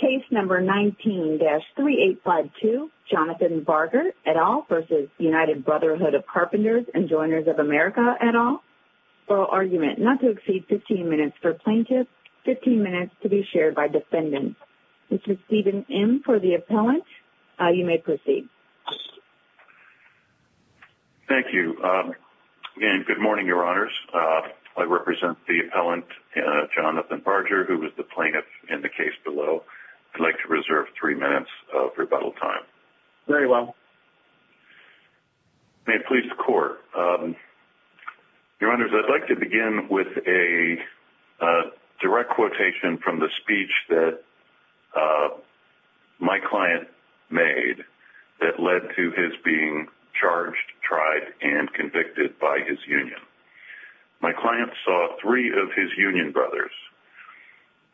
v. United Brotherhood of Carpenters and Joiners of America et al., oral argument, not to exceed 15 minutes for plaintiff, 15 minutes to be shared by defendant. Mr. Stephen M. for the appellant, you may proceed. Thank you. And good morning, Your Honors. I represent the appellant, Jonathan Barger, who was the plaintiff in the case below. I'd like to reserve three minutes of rebuttal time. Very well. May it please the court. Your Honors, I'd like to begin with a direct quotation from the speech that my client made that led to his being charged, tried, and convicted by his union. My client saw three of his union brothers,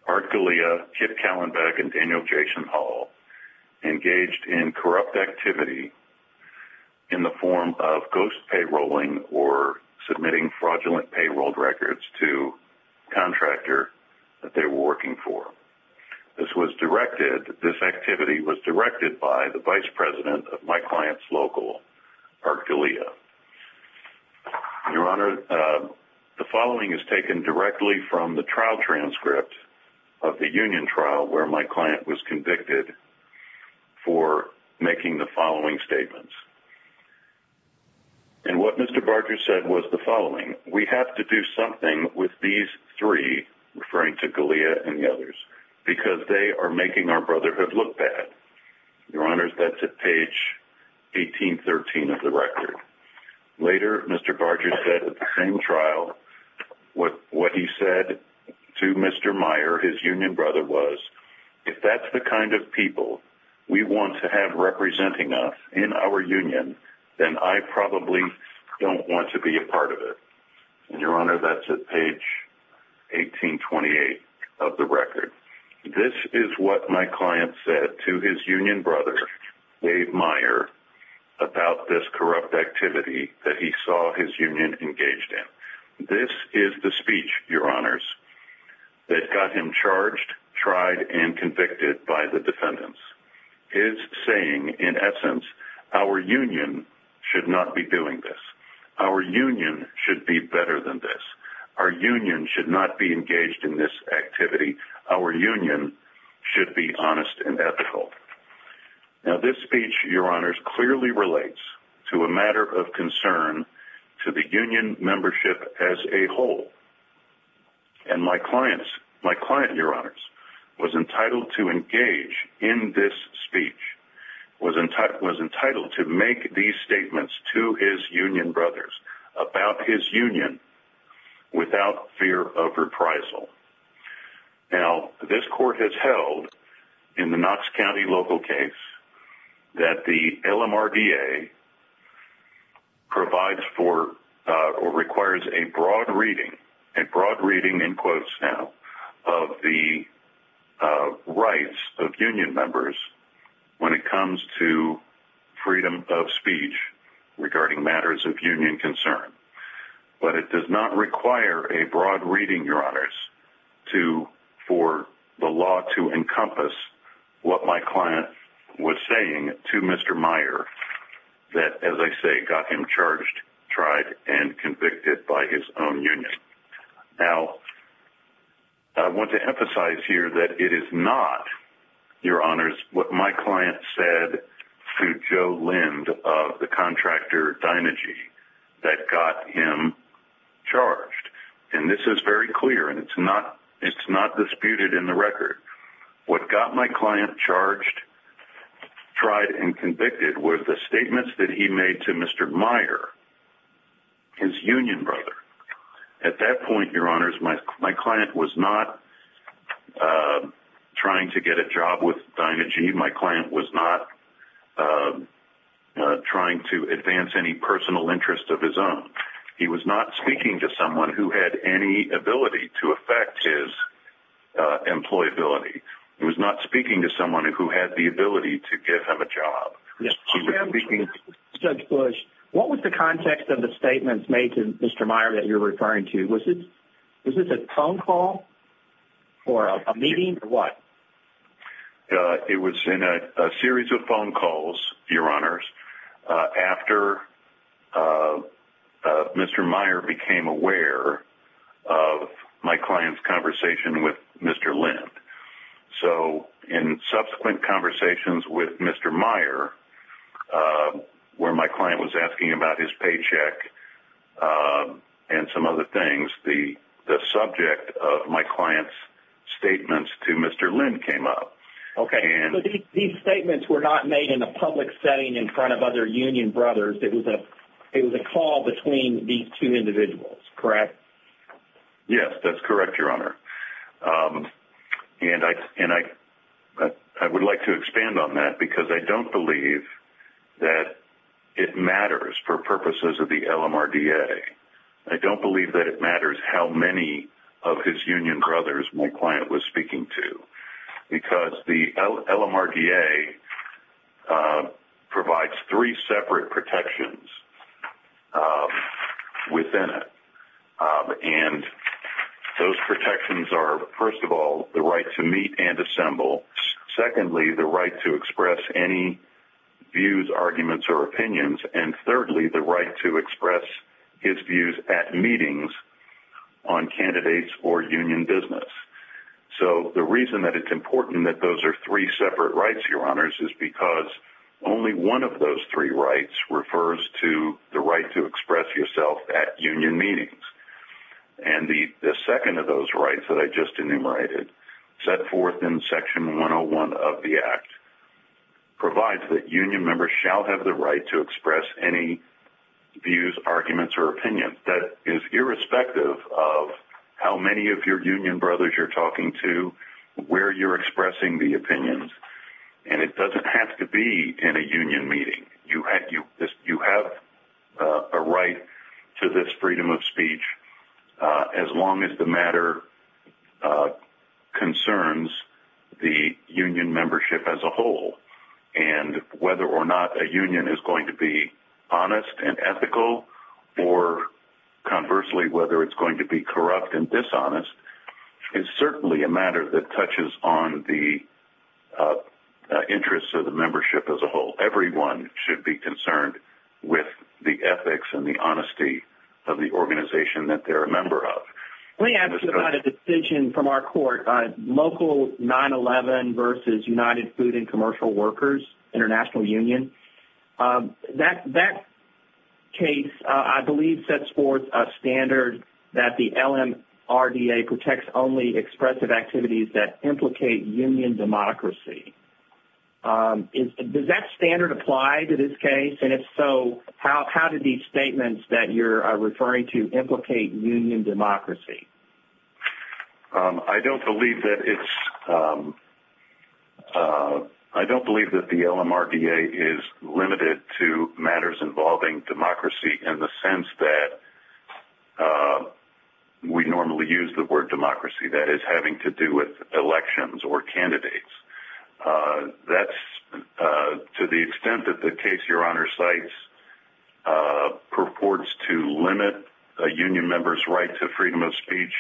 Art Galea, Kip Callenbeck, and Daniel Jason Hall, engaged in corrupt activity in the form of ghost payrolling or submitting fraudulent payroll records to a contractor that they were working for. This was directed, this activity was directed by the vice president of my client's local, Art Galea. Your Honor, the following is taken directly from the trial transcript of the union trial where my client was convicted for making the following statements. And what Mr. Barger said was the following. We have to do something with these three, referring to Galea and the others, because they are making our brotherhood look bad. Your Honors, that's at page 1813 of the record. Later, Mr. Barger said at the same trial, what he said to Mr. Meyer, his union brother, was, if that's the kind of people we want to have representing us in our union, then I probably don't want to be a part of it. Your Honor, that's at page 1828 of the record. This is what my client said to his union brother, Dave Meyer, about this corrupt activity that he saw his union engaged in. This is the speech, Your Honors, that got him charged, tried, and convicted by the defendants. His saying, in essence, our union should not be doing this. Our union should be better than this. Our union should not be engaged in this activity. Our union should be honest and ethical. Now, this speech, Your Honors, clearly relates to a matter of concern to the union membership as a whole. And my client, Your Honors, was entitled to engage in this speech, was entitled to make these statements to his union brothers about his union without fear of reprisal. Now, this court has held in the Knox County local case that the LMRDA provides for or requires a broad reading, a broad reading in quotes now, of the rights of union members when it comes to freedom of speech regarding matters of union concern. But it does not require a broad reading, Your Honors, for the law to encompass what my client was saying to Mr. Meyer that, as I say, got him charged, tried, and convicted by his own union. Now, I want to emphasize here that it is not, Your Honors, what my client said to Joe Lind of the contractor Dynegy that got him charged. And this is very clear, and it's not disputed in the record. What got my client charged, tried, and convicted were the statements that he made to Mr. Meyer, his union brother. At that point, Your Honors, my client was not trying to get a job with Dynegy. My client was not trying to advance any personal interest of his own. He was not speaking to someone who had any ability to affect his employability. He was not speaking to someone who had the ability to give him a job. Judge Bush, what was the context of the statements made to Mr. Meyer that you're referring to? Was this a phone call or a meeting or what? It was in a series of phone calls, Your Honors, after Mr. Meyer became aware of my client's conversation with Mr. Lind. So, in subsequent conversations with Mr. Meyer, where my client was asking about his paycheck and some other things, the subject of my client's statements to Mr. Lind came up. Okay, so these statements were not made in a public setting in front of other union brothers. It was a call between these two individuals, correct? Yes, that's correct, Your Honor. And I would like to expand on that because I don't believe that it matters for purposes of the LMRDA. I don't believe that it matters how many of his union brothers my client was speaking to because the LMRDA provides three separate protections within it. And those protections are, first of all, the right to meet and assemble. Secondly, the right to express any views, arguments, or opinions. And thirdly, the right to express his views at meetings on candidates or union business. So, the reason that it's important that those are three separate rights, Your Honors, is because only one of those three rights refers to the right to express yourself at union meetings. And the second of those rights that I just enumerated, set forth in Section 101 of the Act, provides that union members shall have the right to express any views, arguments, or opinions. That is irrespective of how many of your union brothers you're talking to, where you're expressing the opinions. And it doesn't have to be in a union meeting. You have a right to this freedom of speech as long as the matter concerns the union membership as a whole. And whether or not a union is going to be honest and ethical, or conversely, whether it's going to be corrupt and dishonest, is certainly a matter that touches on the interests of the membership as a whole. Everyone should be concerned with the ethics and the honesty of the organization that they're a member of. Let me ask you about a decision from our court, Local 9-11 versus United Food and Commercial Workers International Union. That case, I believe, sets forth a standard that the LMRDA protects only expressive activities that implicate union democracy. Does that standard apply to this case? And if so, how do these statements that you're referring to implicate union democracy? I don't believe that the LMRDA is limited to matters involving democracy in the sense that we normally use the word democracy. That is having to do with elections or candidates. That's to the extent that the case Your Honor cites purports to limit a union member's right to freedom of speech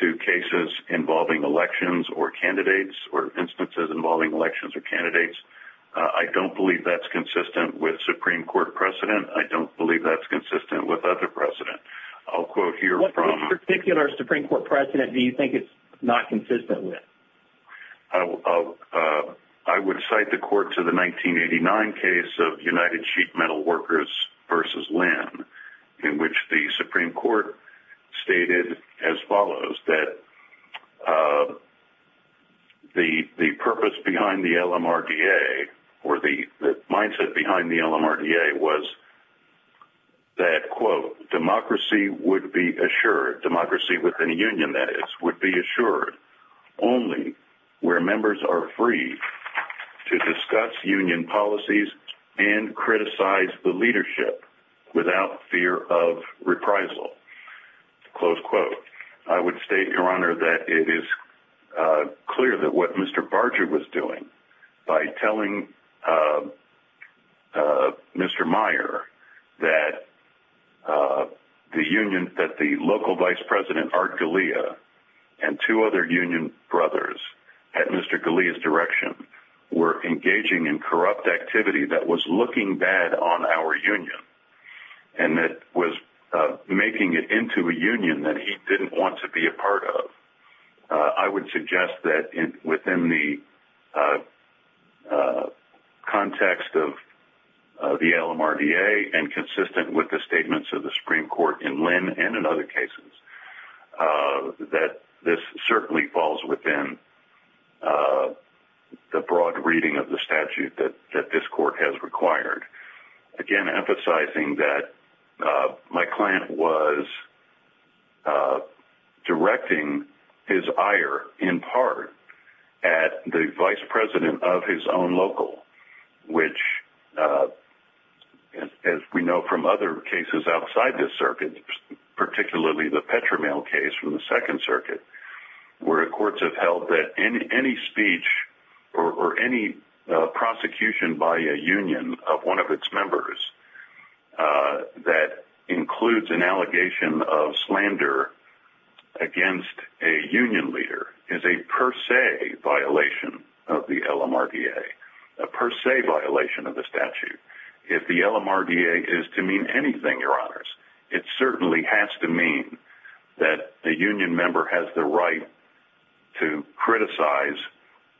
to cases involving elections or candidates or instances involving elections or candidates. I don't believe that's consistent with Supreme Court precedent. I don't believe that's consistent with other precedent. What particular Supreme Court precedent do you think it's not consistent with? I would cite the court to the 1989 case of United Sheep Metal Workers versus Lynn, in which the Supreme Court stated as follows that the purpose behind the LMRDA or the mindset behind the LMRDA was that, quote, democracy would be assured. Democracy within a union, that is, would be assured only where members are free to discuss union policies and criticize the leadership without fear of reprisal. Close quote. I would state, Your Honor, that it is clear that what Mr. Barger was doing by telling Mr. Meyer that the local vice president, Art Galea, and two other union brothers at Mr. Galea's direction, were engaging in corrupt activity that was looking bad on our union and that was making it into a union that he didn't want to be a part of. I would suggest that within the context of the LMRDA and consistent with the statements of the Supreme Court in Lynn and in other cases, that this certainly falls within the broad reading of the statute that this court has required. Again, emphasizing that my client was directing his ire in part at the vice president of his own local, which, as we know from other cases outside this circuit, particularly the Petramel case from the Second Circuit, where courts have held that any speech or any prosecution by a union of one of its members that includes an allegation of slander against a union leader is a per se violation of the LMRDA, a per se violation of the statute. If the LMRDA is to mean anything, your honors, it certainly has to mean that a union member has the right to criticize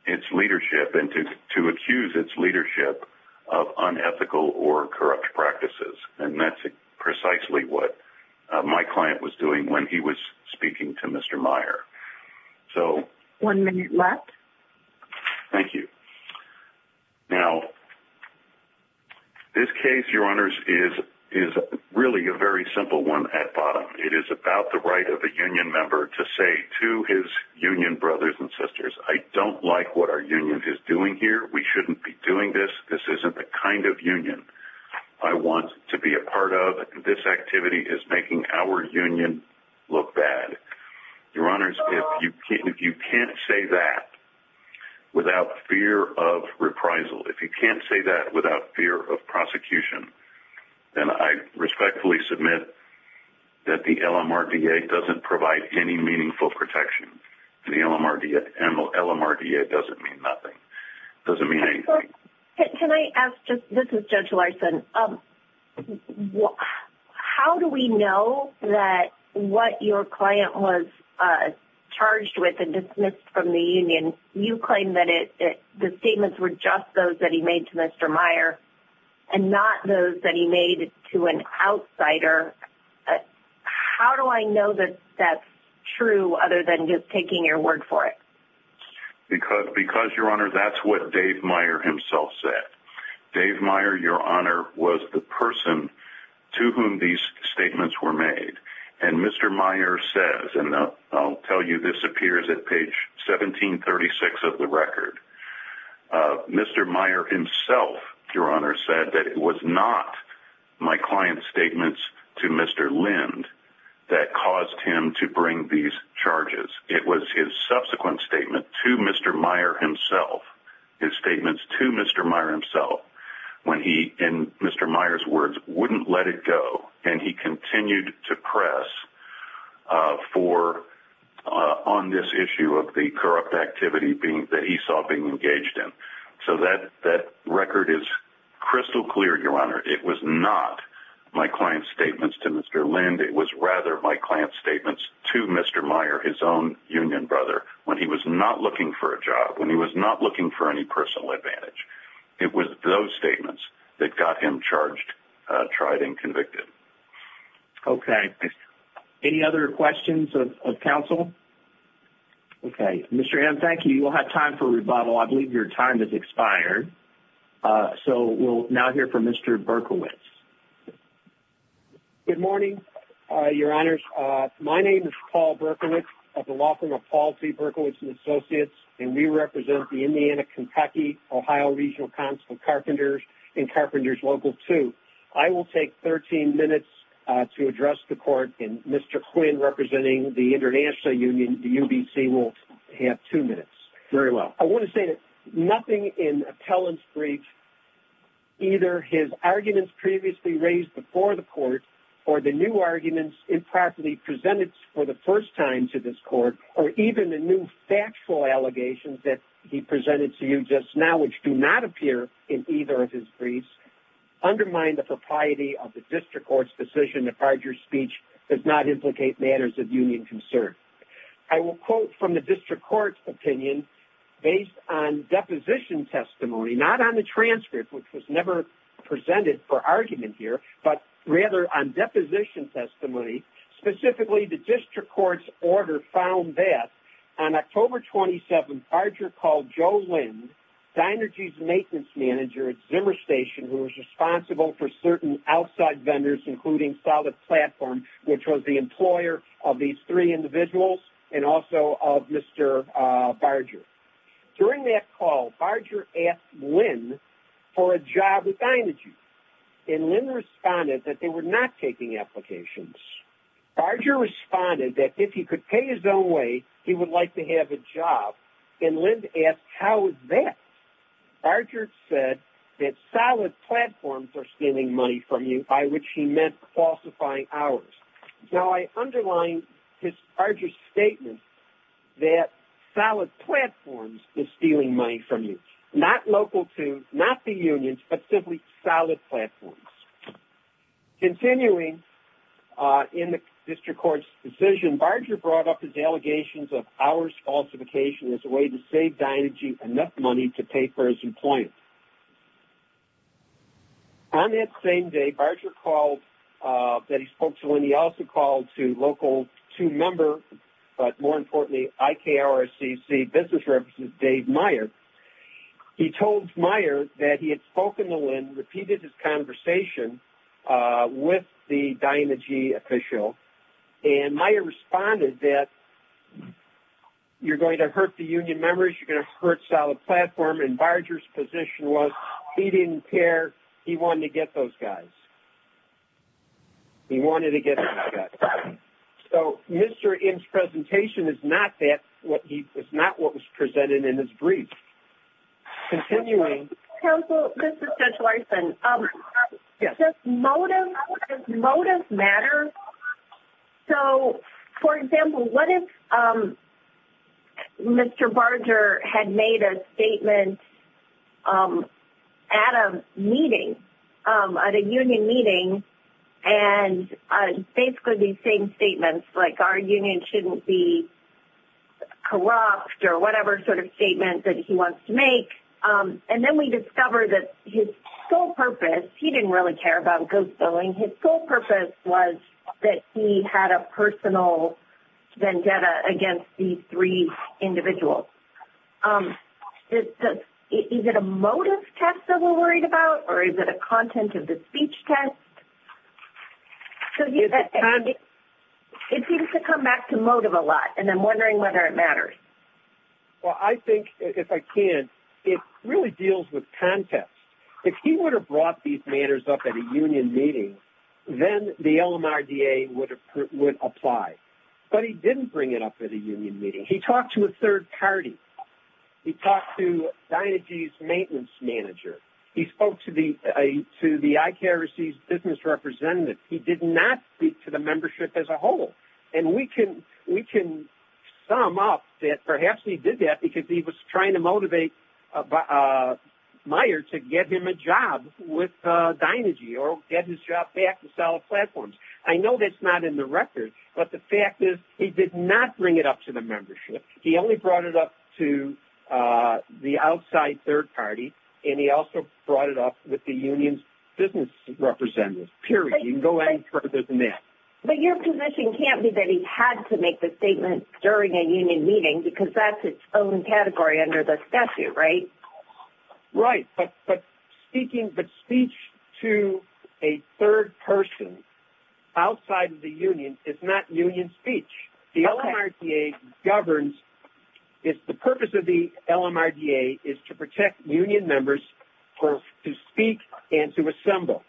its leadership and to accuse its leadership of unethical or corrupt practices, and that's precisely what my client was doing when he was speaking to Mr. Meyer. One minute left. Thank you. Now, this case, your honors, is really a very simple one at bottom. It is about the right of a union member to say to his union brothers and sisters, I don't like what our union is doing here. We shouldn't be doing this. This isn't the kind of union I want to be a part of. This activity is making our union look bad. Your honors, if you can't say that without fear of reprisal, if you can't say that without fear of prosecution, then I respectfully submit that the LMRDA doesn't provide any meaningful protection. The LMRDA doesn't mean nothing. It doesn't mean anything. Can I ask, this is Judge Larson, how do we know that what your client was charged with and dismissed from the union, you claim that the statements were just those that he made to Mr. Meyer and not those that he made to an outsider. How do I know that that's true other than just taking your word for it? Because, your honor, that's what Dave Meyer himself said. Dave Meyer, your honor, was the person to whom these statements were made. And Mr. Meyer says, and I'll tell you this appears at page 1736 of the record, Mr. Meyer himself, your honor, said that it was not my client's statements to Mr. Lind that caused him to bring these charges. It was his subsequent statement to Mr. Meyer himself, his statements to Mr. Meyer himself, when he, in Mr. Meyer's words, wouldn't let it go. And he continued to press on this issue of the corrupt activity that he saw being engaged in. So that record is crystal clear, your honor. It was not my client's statements to Mr. Lind, it was rather my client's statements to Mr. Meyer, his own union brother, when he was not looking for a job, when he was not looking for any personal advantage. It was those statements that got him charged, tried, and convicted. Okay. Any other questions of counsel? Okay. Mr. Hamm, thank you. You will have time for rebuttal. I believe your time has expired. So we'll now hear from Mr. Berkowitz. Good morning, your honors. My name is Paul Berkowitz. I'd like to welcome Paul T. Berkowitz and Associates, and we represent the Indiana, Kentucky, Ohio Regional Council of Carpenters and Carpenters Local 2. I will take 13 minutes to address the court, and Mr. Quinn, representing the International Union, the UBC, will have two minutes. I want to say that nothing in appellant's brief, either his arguments previously raised before the court, or the new arguments improperly presented for the first time to this court, or even the new factual allegations that he presented to you just now, which do not appear in either of his briefs, undermine the propriety of the district court's decision that Farger's speech does not implicate matters of union concern. I will quote from the district court's opinion, based on deposition testimony, not on the transcript, which was never presented for argument here, but rather on deposition testimony. Specifically, the district court's order found that on October 27th, Farger called Joe Lind, Dynergy's maintenance manager at Zimmer Station, who was responsible for certain outside vendors, including Solid Platform, which was the employer of these three individuals, and also of Mr. Farger. During that call, Farger asked Lind for a job with Dynergy, and Lind responded that they were not taking applications. Farger responded that if he could pay his own way, he would like to have a job, and Lind asked, how is that? Farger said that Solid Platforms are stealing money from you, by which he meant falsifying hours. Now, I underline Farger's statement that Solid Platforms is stealing money from you, not Local 2, not the unions, but simply Solid Platforms. Continuing in the district court's decision, Farger brought up his allegations of hours falsification as a way to save Dynergy enough money to pay for his employment. On that same day, Farger called, that he spoke to Lind, he also called to Local 2 member, but more importantly, IKRCC business representative, Dave Meyer. He told Meyer that he had spoken to Lind, repeated his conversation with the Dynergy official, and Meyer responded that you're going to hurt the union members, you're going to hurt Solid Platform, and Barger's position was he didn't care, he wanted to get those guys. He wanted to get those guys. So, Mr. Im's presentation is not what was presented in his brief. Continuing... Counsel, this is Judge Larson. Does motive matter? So, for example, what if Mr. Barger had made a statement at a meeting, at a union meeting, and basically these same statements, like our union shouldn't be corrupt, or whatever sort of statement that he wants to make. And then we discover that his sole purpose, he didn't really care about ghost billing, his sole purpose was that he had a personal vendetta against these three individuals. Is it a motive test that we're worried about, or is it a content of the speech test? It seems to come back to motive a lot, and I'm wondering whether it matters. Well, I think, if I can, it really deals with context. If he would have brought these matters up at a union meeting, then the LMRDA would apply. But he didn't bring it up at a union meeting. He talked to a third party. He talked to Dynergy's maintenance manager. He spoke to the ICARC's business representative. He did not speak to the membership as a whole. And we can sum up that perhaps he did that because he was trying to motivate Meyer to get him a job with Dynergy, or get his job back with Solid Platforms. I know that's not in the record, but the fact is he did not bring it up to the membership. He only brought it up to the outside third party, and he also brought it up with the union's business representative, period. You can go any further than that. But your position can't be that he had to make the statement during a union meeting, because that's its own category under the statute, right? Right, but speaking, but speech to a third person outside of the union is not union speech. The LMRDA governs, the purpose of the LMRDA is to protect union members to speak and to assemble.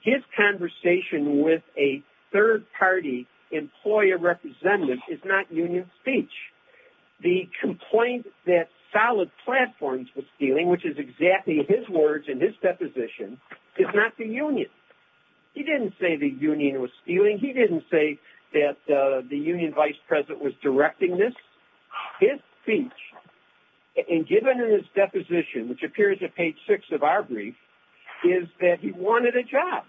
His conversation with a third party employer representative is not union speech. The complaint that Solid Platforms was stealing, which is exactly his words in his deposition, is not the union. He didn't say the union was stealing. He didn't say that the union vice president was directing this. His speech, and given in his deposition, which appears at page six of our brief, is that he wanted a job.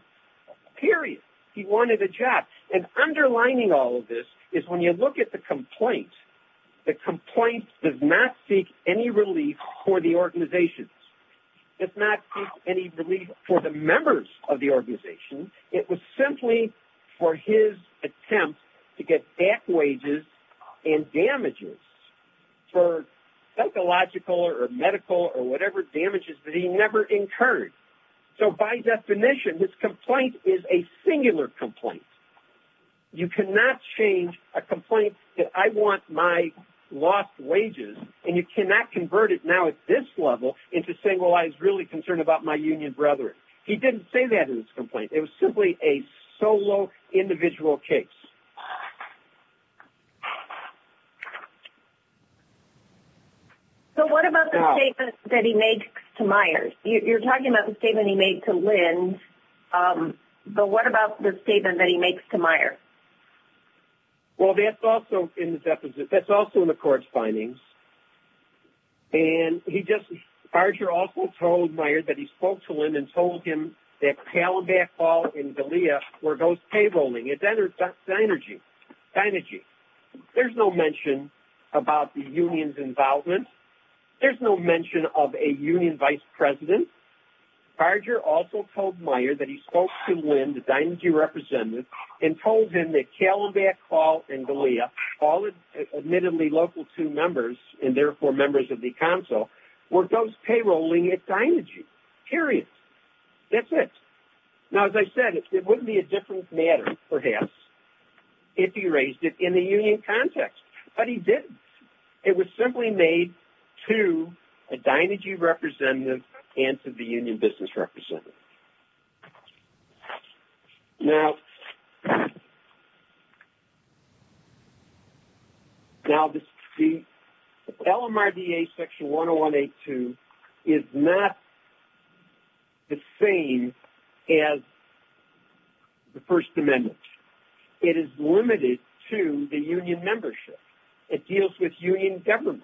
Period. He wanted a job. And underlining all of this is when you look at the complaint, the complaint does not seek any relief for the organization. It's not seeking any relief for the members of the organization. It was simply for his attempt to get back wages and damages for psychological or medical or whatever damages that he never incurred. So by definition, this complaint is a singular complaint. You cannot change a complaint that I want my lost wages, and you cannot convert it now at this level into saying, well, I was really concerned about my union brethren. He didn't say that in his complaint. It was simply a solo, individual case. So what about the statement that he made to Myers? You're talking about the statement he made to Linn, but what about the statement that he makes to Myers? Well, that's also in the court's findings. And he just, Archer also told Myers that he spoke to Linn and told him that Calleback Hall and Galea were ghost payrolling. That's synergy. Synergy. There's no mention about the union's involvement. There's no mention of a union vice president. Archer also told Myers that he spoke to Linn, the Dynagy representative, and told him that Calleback Hall and Galea, all admittedly local to members and therefore members of the council, were ghost payrolling at Dynagy. Period. That's it. Now, as I said, it wouldn't be a different matter, perhaps, if he raised it in the union context. But he didn't. It was simply made to a Dynagy representative and to the union business representative. Now, the LMRDA section 101A2 is not the same as the First Amendment. It is limited to the union membership. It deals with union government.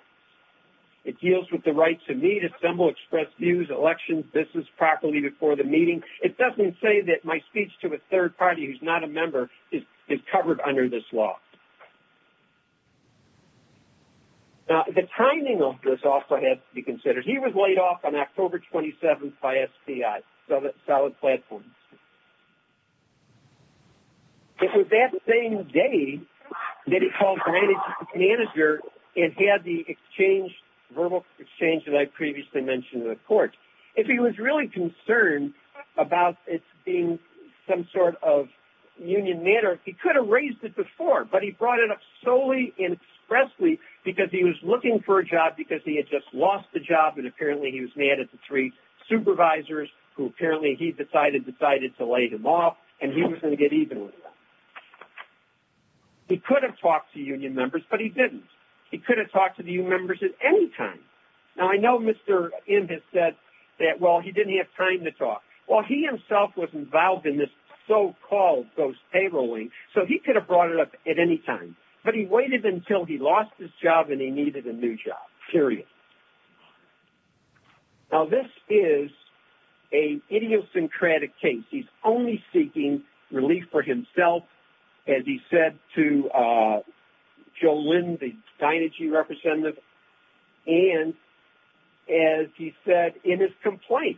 It deals with the right to meet, assemble, express views, elections, business, property before the meeting. It doesn't say that my speech to a third party who's not a member is covered under this law. Now, the timing of this also has to be considered. He was laid off on October 27th by SPI. Solid platform. It was that same day that he called the manager and had the verbal exchange that I previously mentioned in the court. If he was really concerned about it being some sort of union matter, he could have raised it before. But he brought it up solely and expressly because he was looking for a job because he had just lost the job. And apparently he was mad at the three supervisors who apparently he decided to lay him off. And he was going to get even with them. He could have talked to union members, but he didn't. He could have talked to the union members at any time. Now, I know Mr. In has said that, well, he didn't have time to talk. Well, he himself was involved in this so-called ghost payroll link, so he could have brought it up at any time. But he waited until he lost his job and he needed a new job. Period. Now, this is an idiosyncratic case. He's only seeking relief for himself, as he said to Joe Lynn, the Dynegy representative. And, as he said in his complaint.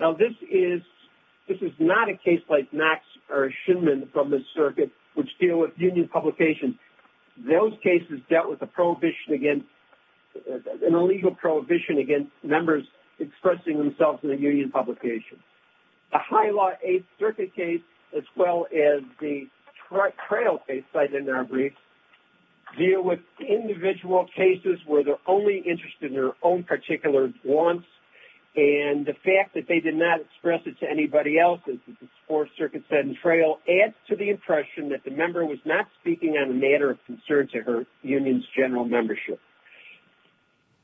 Now, this is not a case like Max or Schuman from the circuit, which deal with union publications. And those cases dealt with an illegal prohibition against members expressing themselves in a union publication. The High Law 8th Circuit case, as well as the Trail case cited in our brief, deal with individual cases where they're only interested in their own particular wants. And the fact that they did not express it to anybody else, as the Fourth Circuit said in Trail, adds to the impression that the member was not speaking on a matter of concern to her union's general membership.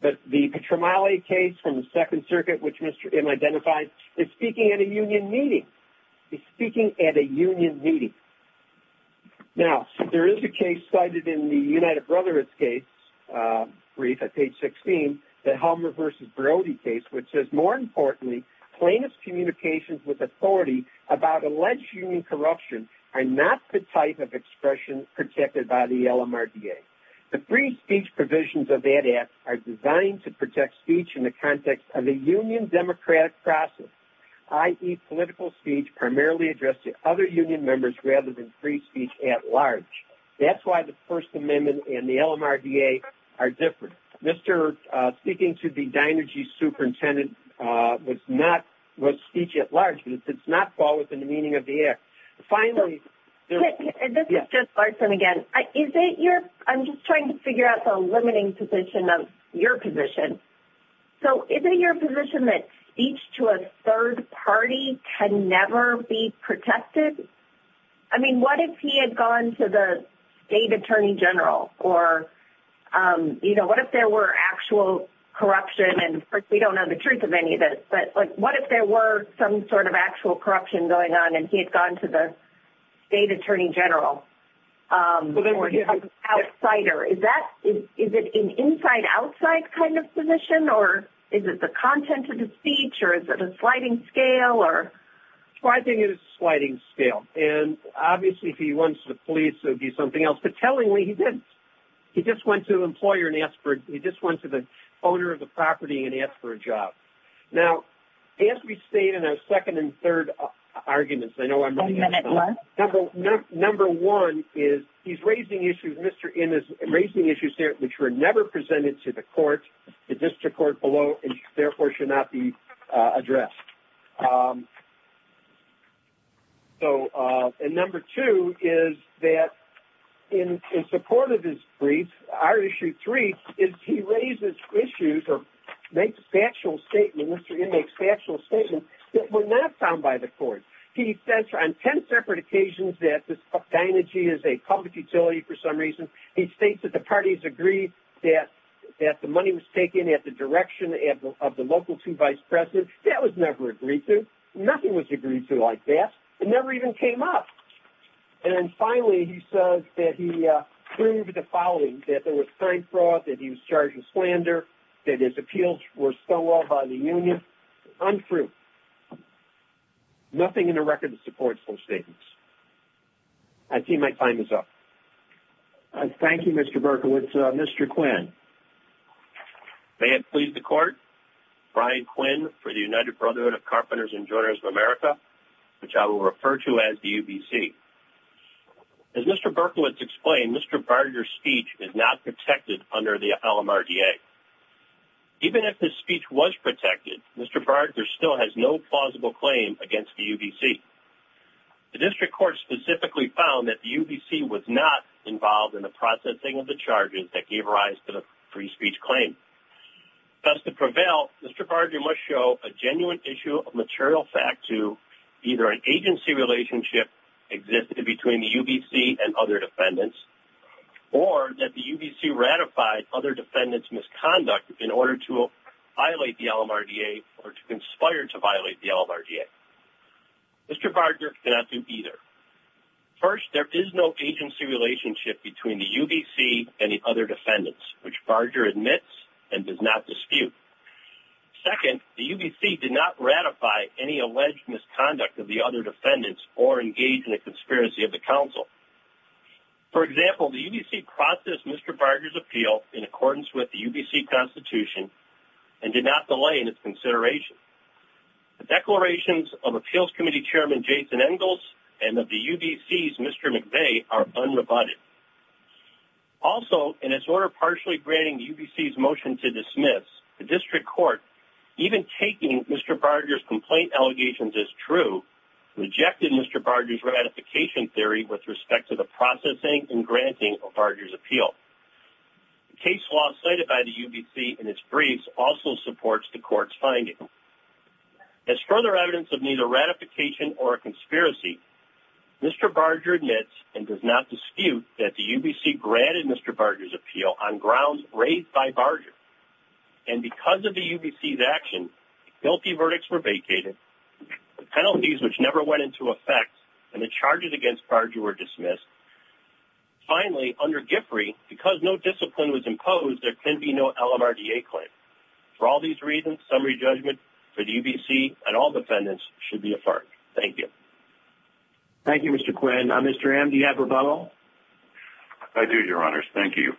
But the Petromali case from the Second Circuit, which Mr. In identified, is speaking at a union meeting. He's speaking at a union meeting. Now, there is a case cited in the United Brotherhood's case, brief at page 16, the Helmer v. Brody case, which says, more importantly, plaintiff's communications with authority about alleged union corruption are not the type of expression protected by the LMRDA. The free speech provisions of that act are designed to protect speech in the context of a union democratic process. I.e., political speech primarily addressed to other union members rather than free speech at large. That's why the First Amendment and the LMRDA are different. Mr. speaking to the Dinergy superintendent was speech at large. It does not fall within the meaning of the act. Finally... This is just Larson again. I'm just trying to figure out the limiting position of your position. So, isn't your position that speech to a third party can never be protected? I mean, what if he had gone to the state attorney general? Or, you know, what if there were actual corruption? And, of course, we don't know the truth of any of this. But, like, what if there were some sort of actual corruption going on and he had gone to the state attorney general? Well, there were. An outsider. Is it an inside-outside kind of position? Or, is it the content of the speech? Or, is it a sliding scale? Well, I think it is a sliding scale. And, obviously, if he wants the police, it would be something else. But, tellingly, he didn't. He just went to the owner of the property and asked for a job. Now, as we state in our second and third arguments... One minute left. Number one is he's raising issues. Mr. In is raising issues there which were never presented to the court, the district court below, and, therefore, should not be addressed. So, and number two is that in support of his brief, our issue three is he raises issues or makes factual statements. Mr. In makes factual statements that were not found by the court. He says on ten separate occasions that Dinergy is a public utility for some reason. He states that the parties agreed that the money was taken at the direction of the local two vice presidents. That was never agreed to. Nothing was agreed to like that. It never even came up. And, finally, he says that he proved the following. That there was crime fraud. That he was charged with slander. That his appeals were stolen by the union. Untrue. Nothing in the record supports those statements. I see my time is up. Thank you, Mr. Berkowitz. Mr. Quinn. May it please the court, Brian Quinn for the United Brotherhood of Carpenters and Joiners of America, which I will refer to as the UBC. As Mr. Berkowitz explained, Mr. Barger's speech is not protected under the LMRDA. Even if his speech was protected, Mr. Barger still has no plausible claim against the UBC. The district court specifically found that the UBC was not involved in the processing of the charges that gave rise to the free speech claim. Thus, to prevail, Mr. Barger must show a genuine issue of material fact to either an agency relationship existed between the UBC and other defendants, or that the UBC ratified other defendants' misconduct in order to violate the LMRDA or to conspire to violate the LMRDA. Mr. Barger cannot do either. First, there is no agency relationship between the UBC and the other defendants, which Barger admits and does not dispute. Second, the UBC did not ratify any alleged misconduct of the other defendants or engage in a conspiracy of the council. For example, the UBC processed Mr. Barger's appeal in accordance with the UBC Constitution and did not delay in its consideration. The declarations of Appeals Committee Chairman Jason Engels and of the UBC's Mr. McVeigh are unrebutted. Also, in its order partially granting UBC's motion to dismiss, the district court, even taking Mr. Barger's complaint allegations as true, rejected Mr. Barger's ratification theory with respect to the processing and granting of Barger's appeal. The case law cited by the UBC in its briefs also supports the court's finding. As further evidence of neither ratification or a conspiracy, Mr. Barger admits and does not dispute that the UBC granted Mr. Barger's appeal on grounds raised by Barger. And because of the UBC's action, guilty verdicts were vacated, penalties which never went into effect, and the charges against Barger were dismissed. Finally, under GIFRI, because no discipline was imposed, there can be no LMRDA claim. For all these reasons, summary judgment for the UBC and all defendants should be affirmed. Thank you. Thank you, Mr. Quinn. Mr. M, do you have a rebuttal? I do, Your Honors. Thank you.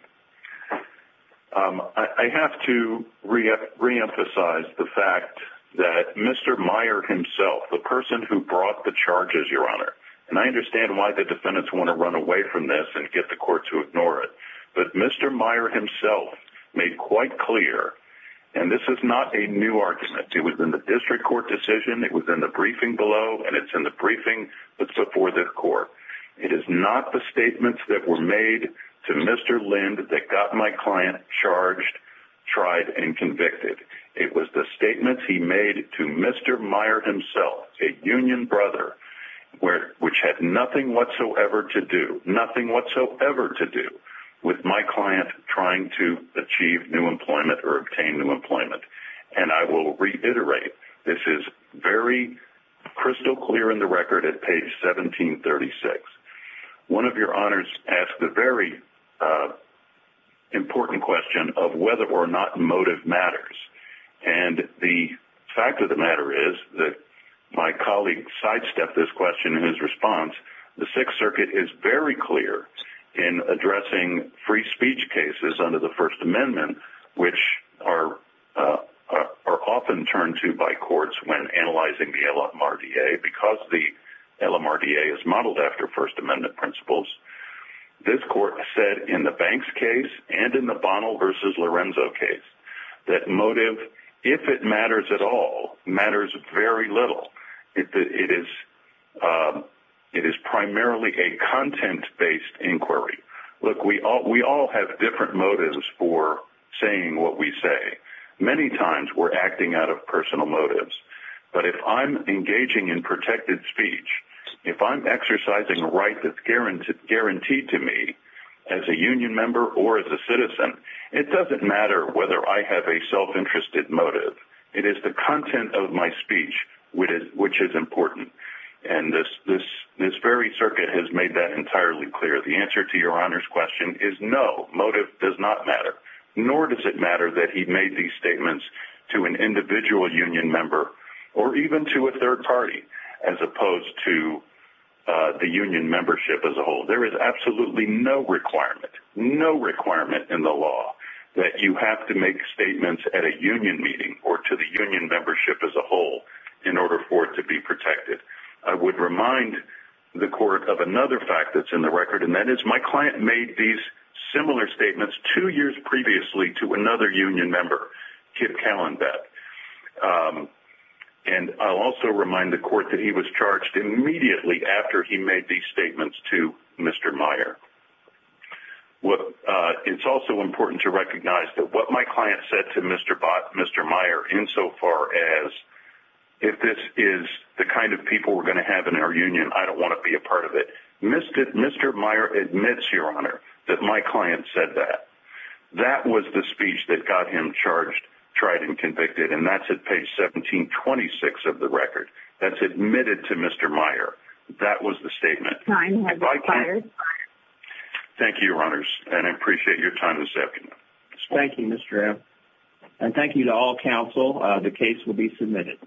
I have to reemphasize the fact that Mr. Meyer himself, the person who brought the charges, Your Honor, and I understand why the defendants want to run away from this and get the court to ignore it, but Mr. Meyer himself made quite clear, and this is not a new argument. It was in the district court decision, it was in the briefing below, and it's in the briefing that's before the court. It is not the statements that were made to Mr. Lind that got my client charged, tried, and convicted. It was the statements he made to Mr. Meyer himself, a union brother, which had nothing whatsoever to do, nothing whatsoever to do with my client trying to achieve new employment or obtain new employment. And I will reiterate, this is very crystal clear in the record at page 1736. One of Your Honors asked the very important question of whether or not motive matters, and the fact of the matter is that my colleague sidestepped this question in his response. The Sixth Circuit is very clear in addressing free speech cases under the First Amendment, which are often turned to by courts when analyzing the LMRDA because the LMRDA is modeled after First Amendment principles. This court said in the Banks case and in the Bonnell v. Lorenzo case that motive, if it matters at all, matters very little. It is primarily a content-based inquiry. Look, we all have different motives for saying what we say. Many times we're acting out of personal motives, but if I'm engaging in protected speech, if I'm exercising a right that's guaranteed to me as a union member or as a citizen, it doesn't matter whether I have a self-interested motive. It is the content of my speech which is important, and this very circuit has made that entirely clear. The answer to Your Honors' question is no, motive does not matter, nor does it matter that he made these statements to an individual union member or even to a third party, as opposed to the union membership as a whole. There is absolutely no requirement, no requirement in the law that you have to make statements at a union meeting or to the union membership as a whole in order for it to be protected. I would remind the court of another fact that's in the record, and that is my client made these similar statements two years previously to another union member, Kip Callenbeck. And I'll also remind the court that he was charged immediately after he made these statements to Mr. Meyer. It's also important to recognize that what my client said to Mr. Meyer, insofar as if this is the kind of people we're going to have in our union, I don't want to be a part of it, Mr. Meyer admits, Your Honor, that my client said that. That was the speech that got him charged, tried, and convicted, and that's at page 1726 of the record. That's admitted to Mr. Meyer. That was the statement. Thank you, Your Honors, and I appreciate your time this afternoon. Thank you, Mr. M. And thank you to all counsel. The case will be submitted.